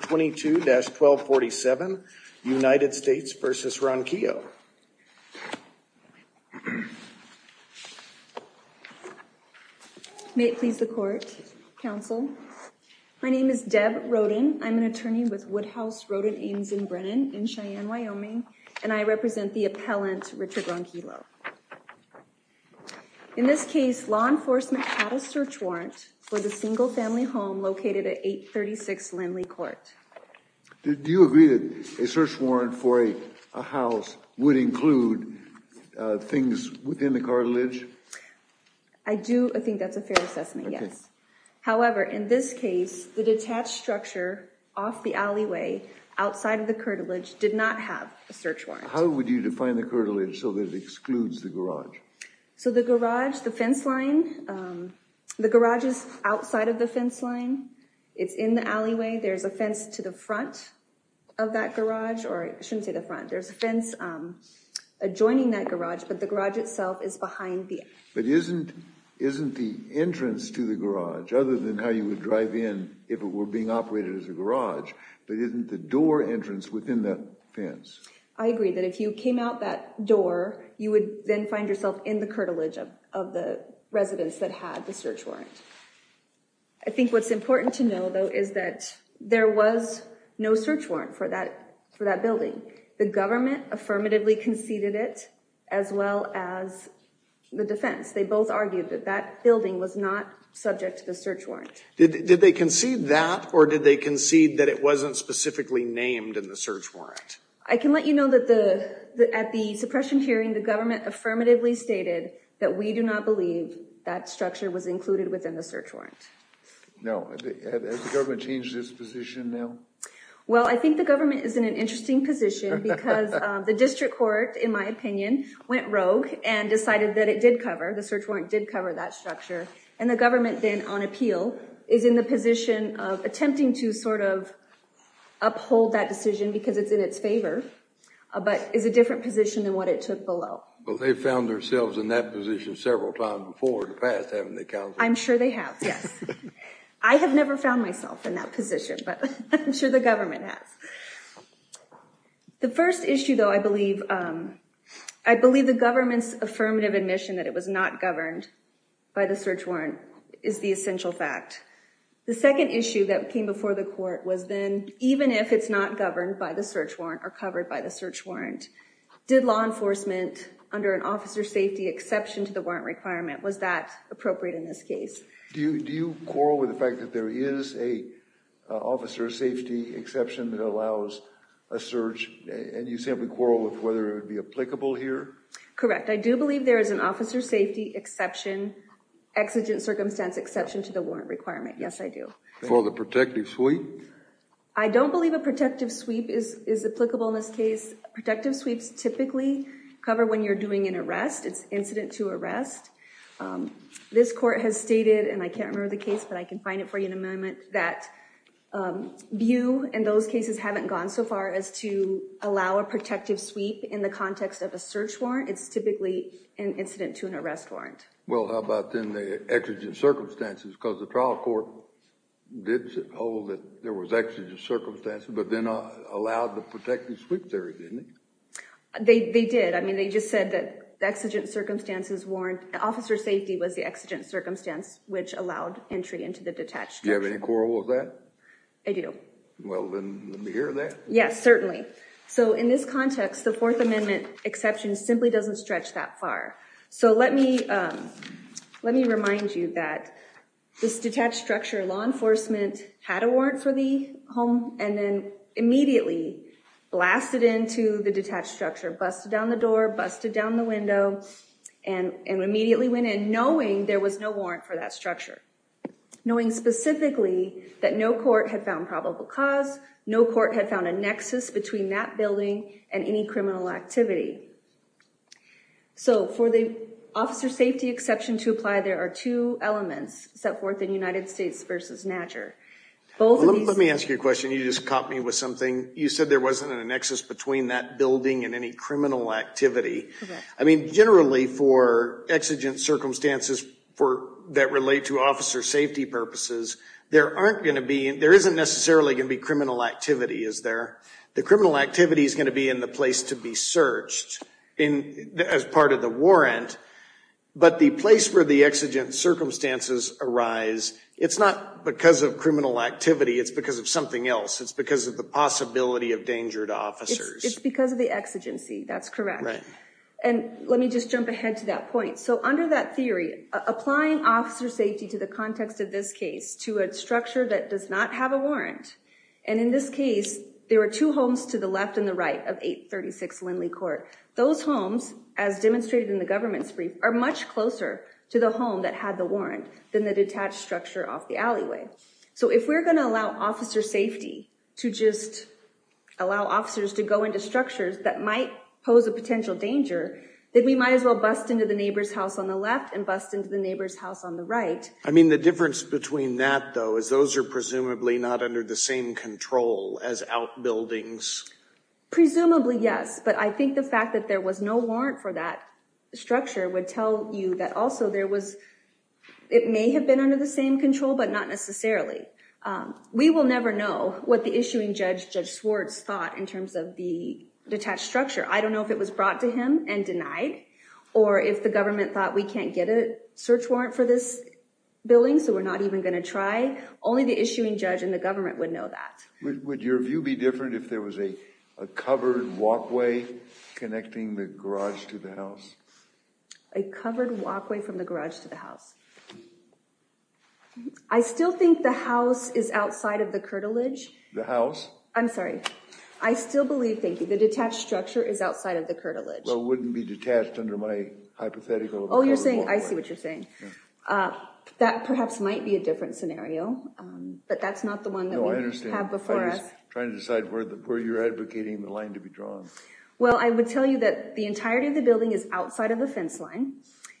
22-1247 United States versus Ronquillo. May it please the court, counsel. My name is Deb Roden. I'm an attorney with Woodhouse Roden Ames in Brennan in Cheyenne, Wyoming, and I represent the appellant Richard Ronquillo. In this case, law enforcement had a search warrant for the single family home located at 836 Lindley Court. Did you agree that a search warrant for a house would include things within the cartilage? I do. I think that's a fair assessment. Yes. However, in this case, the detached structure off the alleyway outside of the cartilage did not have a search warrant. How would you define the cartilage so that it excludes the garage? So the garage, the fence line, the garage is outside of the fence line. It's in the alleyway. There's a fence to the front of that garage, or I shouldn't say the front. There's a fence adjoining that garage, but the garage itself is behind the... But isn't the entrance to the garage, other than how you would drive in if it were being operated as a garage, but isn't the door entrance within that fence? I agree that if you came out that door, you would then find yourself in the residence that had the search warrant. I think what's important to know, though, is that there was no search warrant for that building. The government affirmatively conceded it, as well as the defense. They both argued that that building was not subject to the search warrant. Did they concede that, or did they concede that it wasn't specifically named in the search warrant? I can let you know that at the suppression hearing, the government affirmatively stated that we do not believe that structure was included within the search warrant. No, has the government changed its position now? Well, I think the government is in an interesting position because the district court, in my opinion, went rogue and decided that it did cover, the search warrant did cover that structure, and the government then, on appeal, is in the position of attempting to sort of uphold that decision because it's in its favor, but is a different position than what it took below. Well, they found themselves in that position several times before in the past, haven't they, counsel? I'm sure they have, yes. I have never found myself in that position, but I'm sure the government has. The first issue, though, I believe, I believe the government's affirmative admission that it was not governed by the search warrant is the essential fact. The second issue that came before the court was then, even if it's not governed by the search warrant or covered by the search warrant, did law enforcement, under an officer safety exception to the warrant requirement, was that appropriate in this case? Do you do you quarrel with the fact that there is a officer safety exception that allows a search and you simply quarrel with whether it would be applicable here? Correct. I do believe there is an officer safety exception, exigent circumstance exception to the warrant requirement. Yes, I do. For the protective sweep? I don't believe a protective sweep is applicable in this case. Protective sweeps typically cover when you're doing an arrest. It's incident to arrest. This court has stated, and I can't remember the case, but I can find it for you in a moment, that you and those cases haven't gone so far as to allow a protective sweep in the context of a search warrant. It's typically an incident to an arrest warrant. Well, how about then the exigent circumstances? Because the trial court did hold that there was exigent circumstances, but then allowed the They did. I mean, they just said that the exigent circumstances warrant officer safety was the exigent circumstance which allowed entry into the detached structure. Do you have any quarrel with that? I do. Well, then let me hear that. Yes, certainly. So in this context, the Fourth Amendment exception simply doesn't stretch that far. So let me let me remind you that this detached structure law enforcement had a warrant for the home and then immediately blasted into the detached structure, busted down the door, busted down the window, and immediately went in knowing there was no warrant for that structure. Knowing specifically that no court had found probable cause, no court had found a nexus between that building and any criminal activity. So for the officer safety exception to apply, there are two elements set forth in United States versus NAJUR. Let me ask you a question. You just caught me with something. You said there wasn't a nexus between that building and any criminal activity. I mean, generally, for exigent circumstances that relate to officer safety purposes, there aren't going to be, there isn't necessarily going to be criminal activity, is there? The criminal activity is going to be in the place to be searched as part of the warrant, but the place where the exigent circumstances arise, it's not because of criminal activity. It's because of something else. It's because of the possibility of danger to officers. It's because of the exigency. That's correct. And let me just jump ahead to that point. So under that theory, applying officer safety to the context of this case to a structure that does not have a warrant, and in this case, there were two homes to the left and the right of 836 Lindley Court. Those homes, as demonstrated in the government's brief, are much closer to the home that had the warrant than the detached structure off the alleyway. So if we're going to allow officer safety to just allow officers to go into structures that might pose a potential danger, that we might as well bust into the neighbor's house on the left and bust into the neighbor's house on the right. I mean, the difference between that though, is those are presumably not under the same control as outbuildings. Presumably, yes, but I think the fact that there was no warrant for that structure would tell you that also there was, it may have been under the same control, but not necessarily. We will never know what the issuing judge, Judge Swartz, thought in terms of the detached structure. I don't know if it was brought to him and denied, or if the government thought we can't get a search warrant for this building, so we're not even going to try. Only the issuing judge and the government would know that. Would your view be different if there was a covered walkway connecting the garage to the house? A covered walkway from the garage to the house. I still think the house is outside of the curtilage. The house? I'm sorry. I still believe, thank you, the detached structure is outside of the curtilage. Well, it wouldn't be detached under my hypothetical. Oh, you're saying, I see what you're saying. That perhaps might be a different scenario, but that's not the one that we have before us. Trying to decide where you're advocating the line to be drawn. Well, I would tell you that the entirety of the building is outside of the fence line,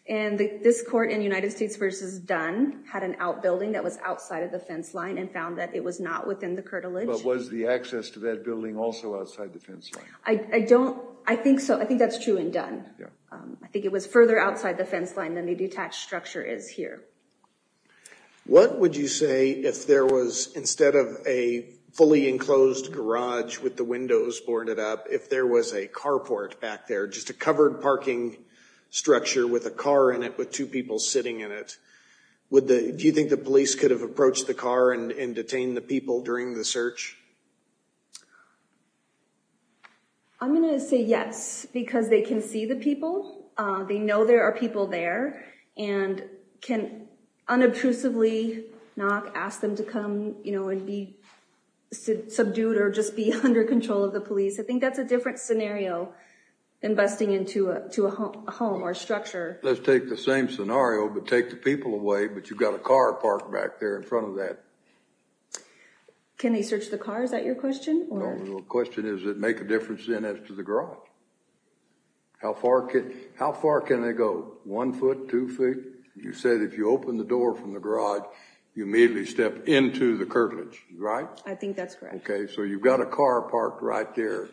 and this court in United States versus Dunn had an outbuilding that was outside of the fence line and found that it was not within the curtilage. But was the access to that building also outside the fence line? I don't, I think so. I think that's true in Dunn. I think it was further outside the fence line than the detached structure is here. What would you say if there was, instead of a fully enclosed garage with the windows boarded up, if there was a carport back there, just a covered parking structure with a car in it with two people sitting in it. Would the, do you think the police could have approached the car and detained the people during the search? I'm going to say yes, because they can see the people. They know there are people there and can unobtrusively knock, ask them to come, you know, and be subdued or just be under control of the police. I think that's a different scenario than busting into a home or structure. Let's take the same scenario, but take the people away, but you've got a car parked back there in front of that. Can they search the car? Is that your question? No, the question is, does it make a difference then as to the garage? How far can they go? One foot, two feet? You said if you open the door from the garage, you immediately step into the curtilage, right? I think that's correct. Okay, so you've got a car parked right there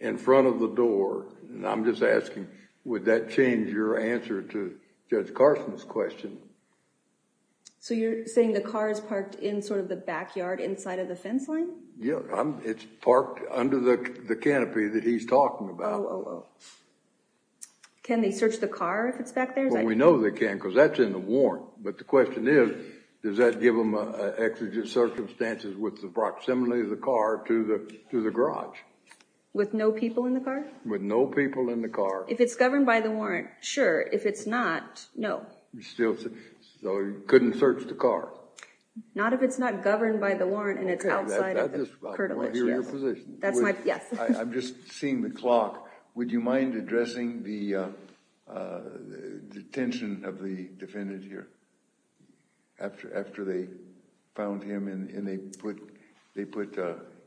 in front of the door, and I'm just asking, would that change your answer to Judge Carson's question? So you're saying the car is parked in sort of the backyard inside of the fence line? Yeah, it's parked under the canopy that he's talking about. Can they search the car if it's back there? Well, we know they can because that's in the warrant, but the exigent circumstances with the proximity of the car to the garage. With no people in the car? With no people in the car. If it's governed by the warrant, sure. If it's not, no. Still, so you couldn't search the car? Not if it's not governed by the warrant and it's outside of the curtilage. I just want to hear your position. That's my, yes. I'm just seeing the clock. Would you mind addressing the detention of the defendant here? After they found him and they put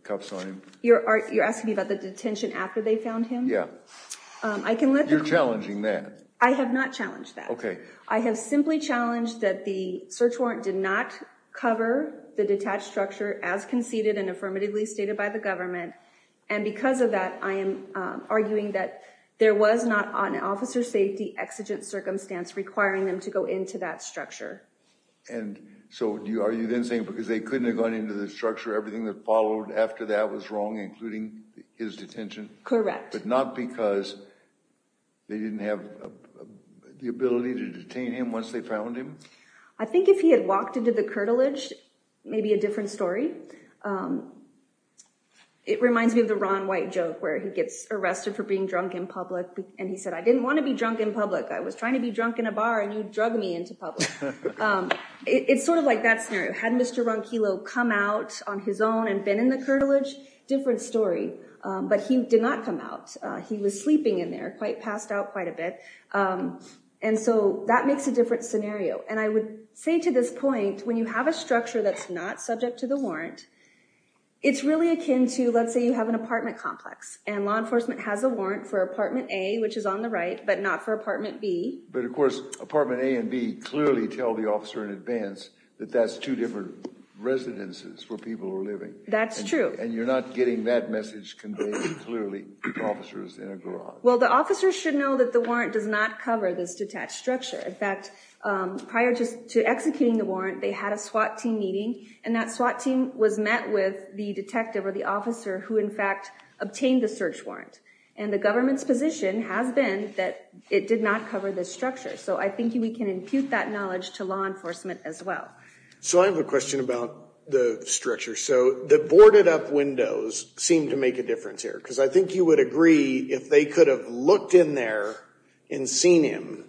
cuffs on him? You're asking me about the detention after they found him? Yeah. I can let them. You're challenging that. I have not challenged that. Okay. I have simply challenged that the search warrant did not cover the detached structure as conceded and affirmatively stated by the government. And because of that, I am arguing that there was not an officer safety exigent circumstance requiring them to go into that structure. And so are you then saying because they couldn't have gone into the structure, everything that followed after that was wrong, including his detention? Correct. But not because they didn't have the ability to detain him once they found him? I think if he had walked into the curtilage, maybe a different story. It reminds me of the Ron White joke where he gets arrested for being drunk in public. And he said, I didn't want to be drunk in public. I was trying to be drunk in a bar and you drug me into public. It's sort of like that scenario. Had Mr. Ronquillo come out on his own and been in the curtilage? Different story. But he did not come out. He was sleeping in there, passed out quite a bit. And so that makes a different scenario. And I would say to this point, when you have a structure that's not subject to the warrant, it's really akin to, let's say you have an apartment complex and law enforcement has a warrant for apartment A, which But of course, apartment A and B clearly tell the officer in advance that that's two different residences where people are living. That's true. And you're not getting that message conveyed clearly to officers in a garage. Well, the officers should know that the warrant does not cover this detached structure. In fact, prior to executing the warrant, they had a SWAT team meeting and that SWAT team was met with the detective or the And the government's position has been that it did not cover this structure. So I think we can impute that knowledge to law enforcement as well. So I have a question about the structure. So the boarded up windows seem to make a difference here because I think you would agree if they could have looked in there and seen him,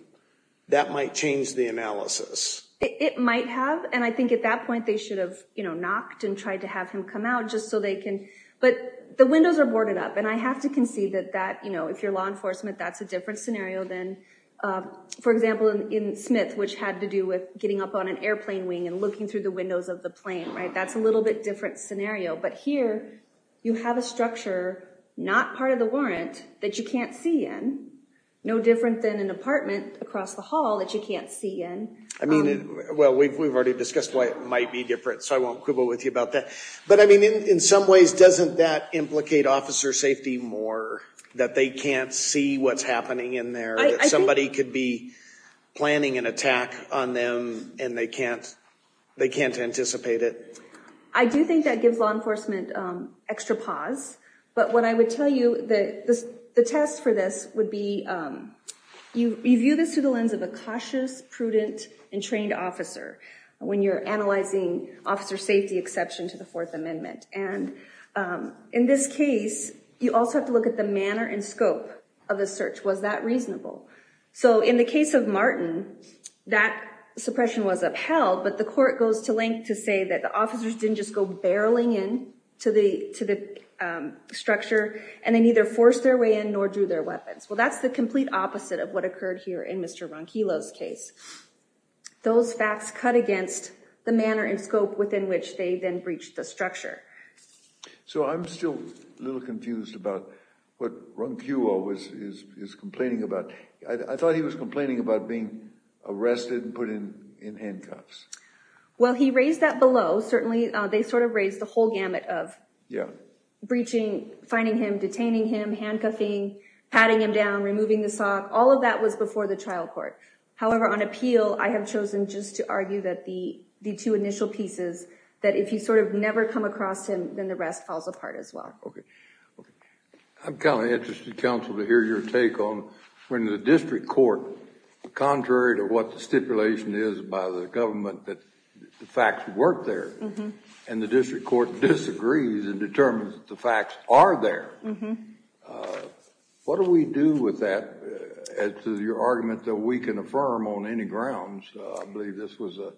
that might change the analysis. It might have and I think at that point they should have, you know, knocked and tried to have him come out just so they can but the windows are boarded up and I have to concede that that, you know, if you're law enforcement, that's a For example in Smith, which had to do with getting up on an airplane wing and looking through the windows of the plane, right? That's a little bit different scenario. But here you have a structure not part of the warrant that you can't see in, no different than an apartment across the hall that you can't see in. I mean, well, we've already discussed why it might be different. So I won't quibble with you about that. But I mean in some ways doesn't that implicate officer safety more that they can't see what's happening in there that somebody could be planning an attack on them and they can't, they can't anticipate it. I do think that gives law enforcement extra pause. But what I would tell you that the test for this would be you view this through the lens of a cautious, prudent, and trained officer when you're analyzing officer safety exception to the Fourth Amendment. And in this case, you also have to look at the manner and scope of the search. Was that reasonable? So in the case of Martin, that suppression was upheld. But the court goes to length to say that the officers didn't just go barreling in to the structure and they neither forced their way in nor drew their weapons. Well, that's the complete opposite of what occurred here in Mr. Ronquillo's case. Those facts cut against the manner and scope within which they then breached the structure. So I'm still a little confused about what Ronquillo is complaining about. I thought he was complaining about being arrested and put in handcuffs. Well, he raised that below. Certainly, they sort of raised the whole gamut of breaching, finding him, detaining him, handcuffing, patting him down, removing the sock. All of that was before the trial court. However, on appeal, I have chosen just to argue that the two initial pieces that if you sort of never come across him, then the rest falls apart as well. I'm kind of interested, counsel, to hear your take on when the district court, contrary to what the stipulation is by the government, that the facts work there and the district court disagrees and determines that the facts are there. What do we do with that as to your argument that we can affirm on any grounds? I believe this was a...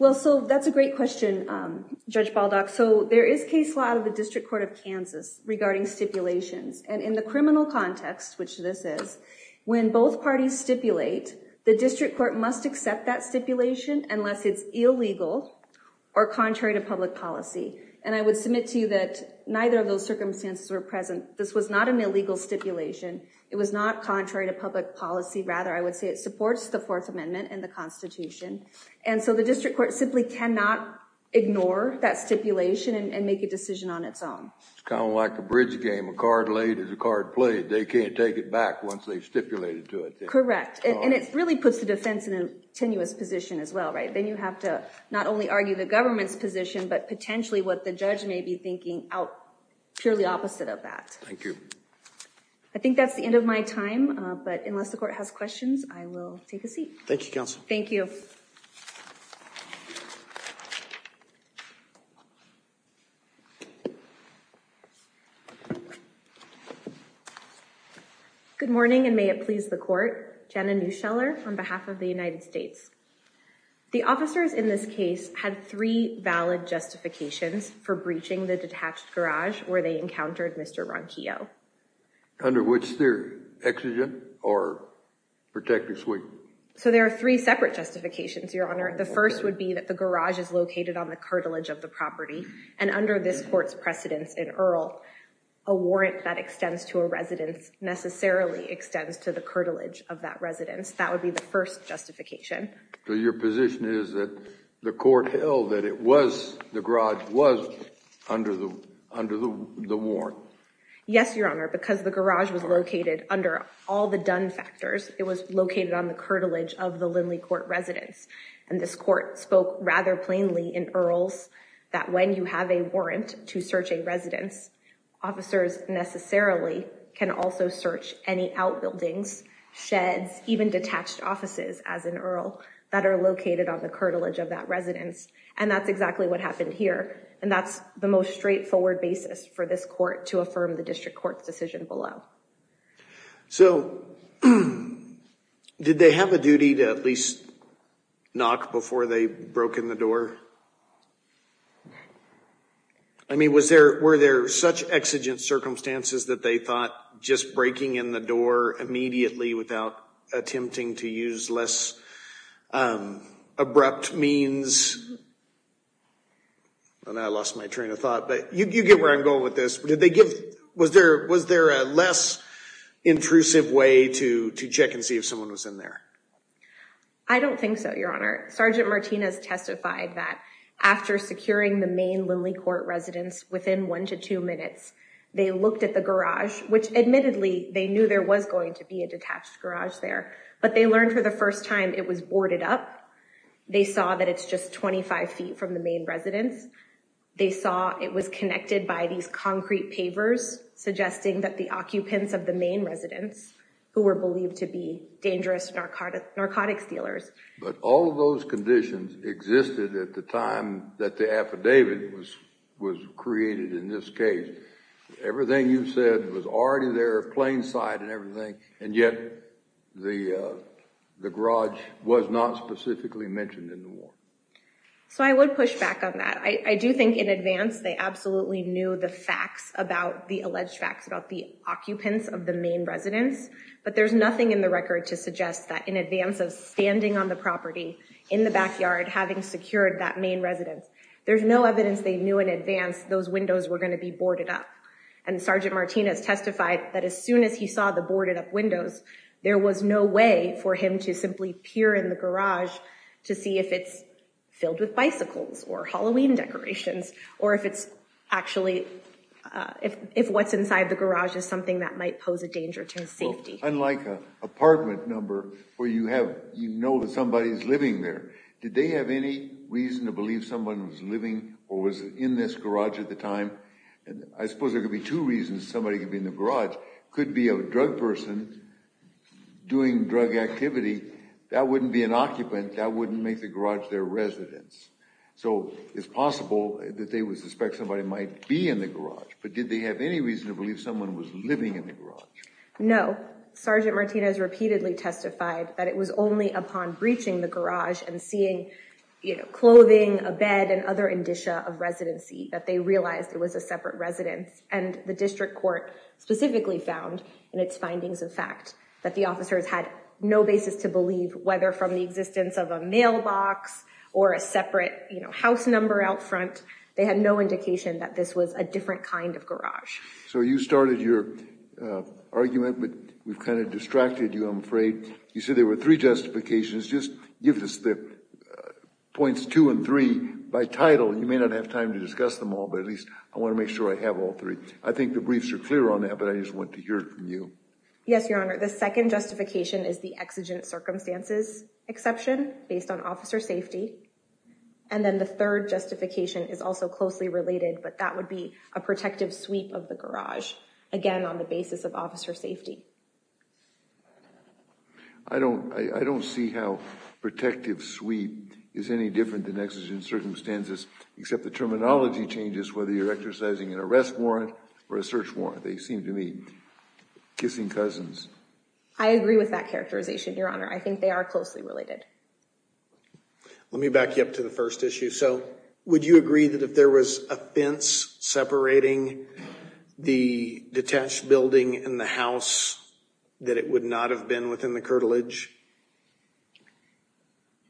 Well, so that's a great question, Judge Baldock. So there is case law of the District Court of Kansas regarding stipulations and in the criminal context, which this is, when both parties stipulate, the district court must accept that stipulation unless it's illegal or contrary to public policy. And I would submit to you that neither of those circumstances were present. This was not an illegal stipulation. It was not contrary to public policy. Rather, I would say it supports the Fourth Amendment and the Constitution. And so the district court simply cannot ignore that stipulation and make a decision on its own. It's kind of like a bridge game. A card laid is a card played. They can't take it back once they've stipulated to it. Correct. And it really puts the defense in a tenuous position as well, right? Then you have to not only argue the government's position, but potentially what the judge may be thinking out purely opposite of that. Thank you. I think that's the end of my time. But unless the court has questions, I will take a seat. Thank you, Counsel. Thank you. Good morning, and may it please the court. Jenna Neuscheller, on behalf of the United States. The officers in this case had three valid justifications for breaching the detached garage where they encountered Mr. Ronquillo. Under which they're exigent or protective suite. So there are three separate justifications, Your Honor. The first would be that the garage is located on the cartilage of the property. And under this court's precedence in Earl, a warrant that extends to a residence necessarily extends to the cartilage of that residence. That would be the first justification. So your position is that the court held that it was, the garage was under the, under the warrant? Yes, Your Honor, because the garage was located under all the done factors. It was located on the cartilage of the Lindley Court residence. And this court spoke rather plainly in Earl's that when you have a warrant to search a residence, officers necessarily can also search any outbuildings, sheds, even detached offices as in Earl, that are located on the cartilage of that residence. And that's exactly what happened here. And that's the most straightforward basis for this court to affirm the District Court's decision below. So, did they have a duty to at least knock before they broke in the door? I mean, was there, were there such exigent circumstances that they thought just breaking in the door immediately without attempting to use less abrupt means? And I lost my train of thought, but you get where I'm going with this. Did they give, was there, was there a less intrusive way to check and see if someone was in there? Sergeant Martinez testified that there was no intrusive way to do that after securing the main Lindley Court residence within one to two minutes. They looked at the garage, which admittedly, they knew there was going to be a detached garage there, but they learned for the first time it was boarded up. They saw that it's just 25 feet from the main residence. They saw it was connected by these concrete pavers suggesting that the occupants of the main residence who were believed to be dangerous narcotics dealers. But all of those conditions existed at the time that the affidavit was was created in this case. Everything you said was already there, plain sight and everything, and yet the the garage was not specifically mentioned in the war. So I would push back on that. I do think in advance, they absolutely knew the facts about the alleged facts about the occupants of the main residence, but there's nothing in the record to suggest that in on the property, in the backyard, having secured that main residence, there's no evidence they knew in advance those windows were going to be boarded up. And Sergeant Martinez testified that as soon as he saw the boarded up windows, there was no way for him to simply peer in the garage to see if it's filled with bicycles or Halloween decorations, or if it's actually if what's inside the garage is something that might pose a danger to his safety. Unlike a apartment number where you have, you know that somebody's living there. Did they have any reason to believe someone was living or was in this garage at the time? And I suppose there could be two reasons somebody could be in the garage. Could be a drug person doing drug activity. That wouldn't be an occupant. That wouldn't make the garage their residence. So it's possible that they would suspect somebody might be in the garage, but did they have any reason to believe someone was living in the garage? No. Sergeant Martinez repeatedly testified that it was only upon breaching the garage and seeing clothing, a bed, and other indicia of residency that they realized it was a separate residence. And the District Court specifically found in its findings of fact that the officers had no basis to believe whether from the existence of a mailbox or a separate, you know, house number out front. They had no indication that this was a different kind of garage. So you started your argument, but we've kind of distracted you, I'm afraid. You said there were three justifications. Just give us the points two and three by title. You may not have time to discuss them all, but at least I want to make sure I have all three. I think the briefs are clear on that, but I just want to hear it from you. Yes, Your Honor. The second justification is the exigent circumstances exception based on officer safety. And then the third justification is also closely related, but that would be a protective sweep of the garage. Again, on the basis of officer safety. I don't, I don't see how protective sweep is any different than exigent circumstances, except the terminology changes whether you're exercising an arrest warrant or a search warrant. They seem to be kissing cousins. I agree with that characterization, Your Honor. I think they are closely related. Let me back you up to the first issue. So would you agree that if there was a fence separating the detached building and the house that it would not have been within the curtilage?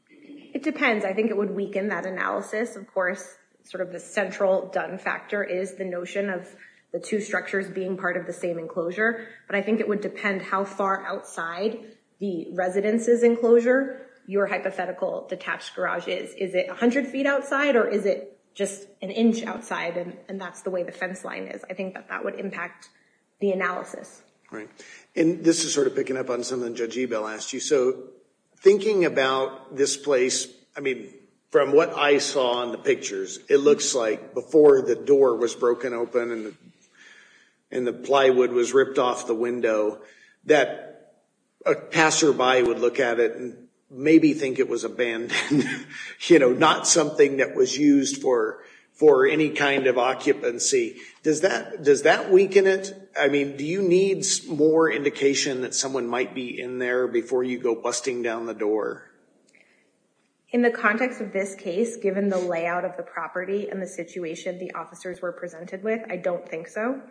It depends. I think it would weaken that analysis. Of course, sort of the central done factor is the notion of the two structures being part of the same enclosure, but I think it would depend how far outside the residence's enclosure your hypothetical detached garage is. Is it a hundred feet outside or is it just an inch outside and that's the way the fence line is? I think that that would impact the analysis. And this is sort of picking up on something Judge Ebel asked you. So thinking about this place, I mean, from what I saw on the pictures, it looks like before the door was broken open and and the plywood was ripped off the window, that a passerby would look at it and maybe think it was abandoned, you know, not something that was used for any kind of occupancy. Does that weaken it? I mean, do you need more indication that someone might be in there before you go busting down the door? In the context of this case, given the layout of the property and the situation the officers were presented with, I don't think so.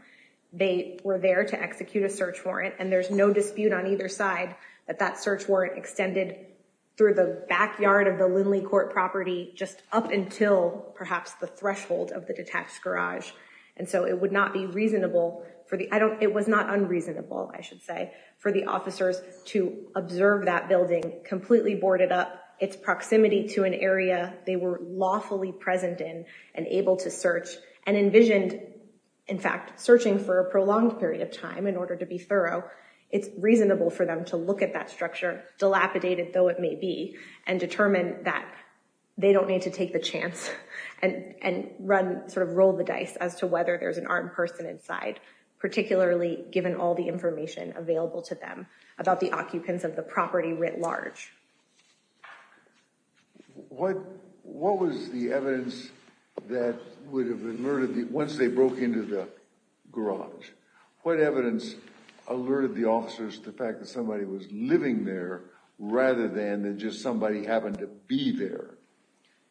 They were there to execute a search warrant and there's no dispute on either side that that search warrant extended through the backyard of the Lindley Court property just up until perhaps the threshold of the detached garage. And so it would not be reasonable for the, I don't, it was not unreasonable, I should say, for the officers to observe that building completely boarded up, its proximity to an area they were lawfully present in and able to search and envisioned, in fact, searching for a prolonged period of time in order to be thorough. It's reasonable for them to look at that structure, dilapidated though it may be, and determine that they don't need to take the chance and run, sort of roll the dice as to whether there's an armed person inside, particularly given all the information available to them about the occupants of the property writ large. What, what was the evidence that would have alerted the, once they broke into the garage? What evidence alerted the officers to the fact that somebody was living there rather than just somebody having to be there?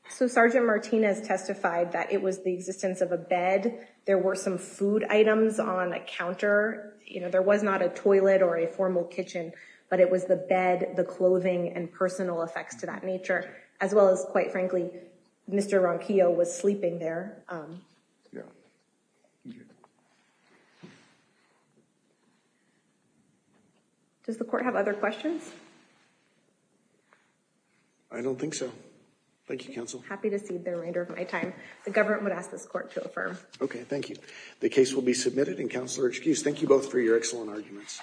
So Sergeant Martinez testified that it was the existence of a bed. There were some food items on a counter, you know, there was not a toilet or a formal kitchen, but it was the bed, the clothing, and personal effects to that nature, as well as quite frankly, Mr. Ronquillo was sleeping there. Yeah. Does the court have other questions? I don't think so. Thank you counsel. Happy to cede the remainder of my time. The government would ask this court to affirm. Okay. Thank you. The case will be submitted and counselor excused. Thank you both for your excellent arguments.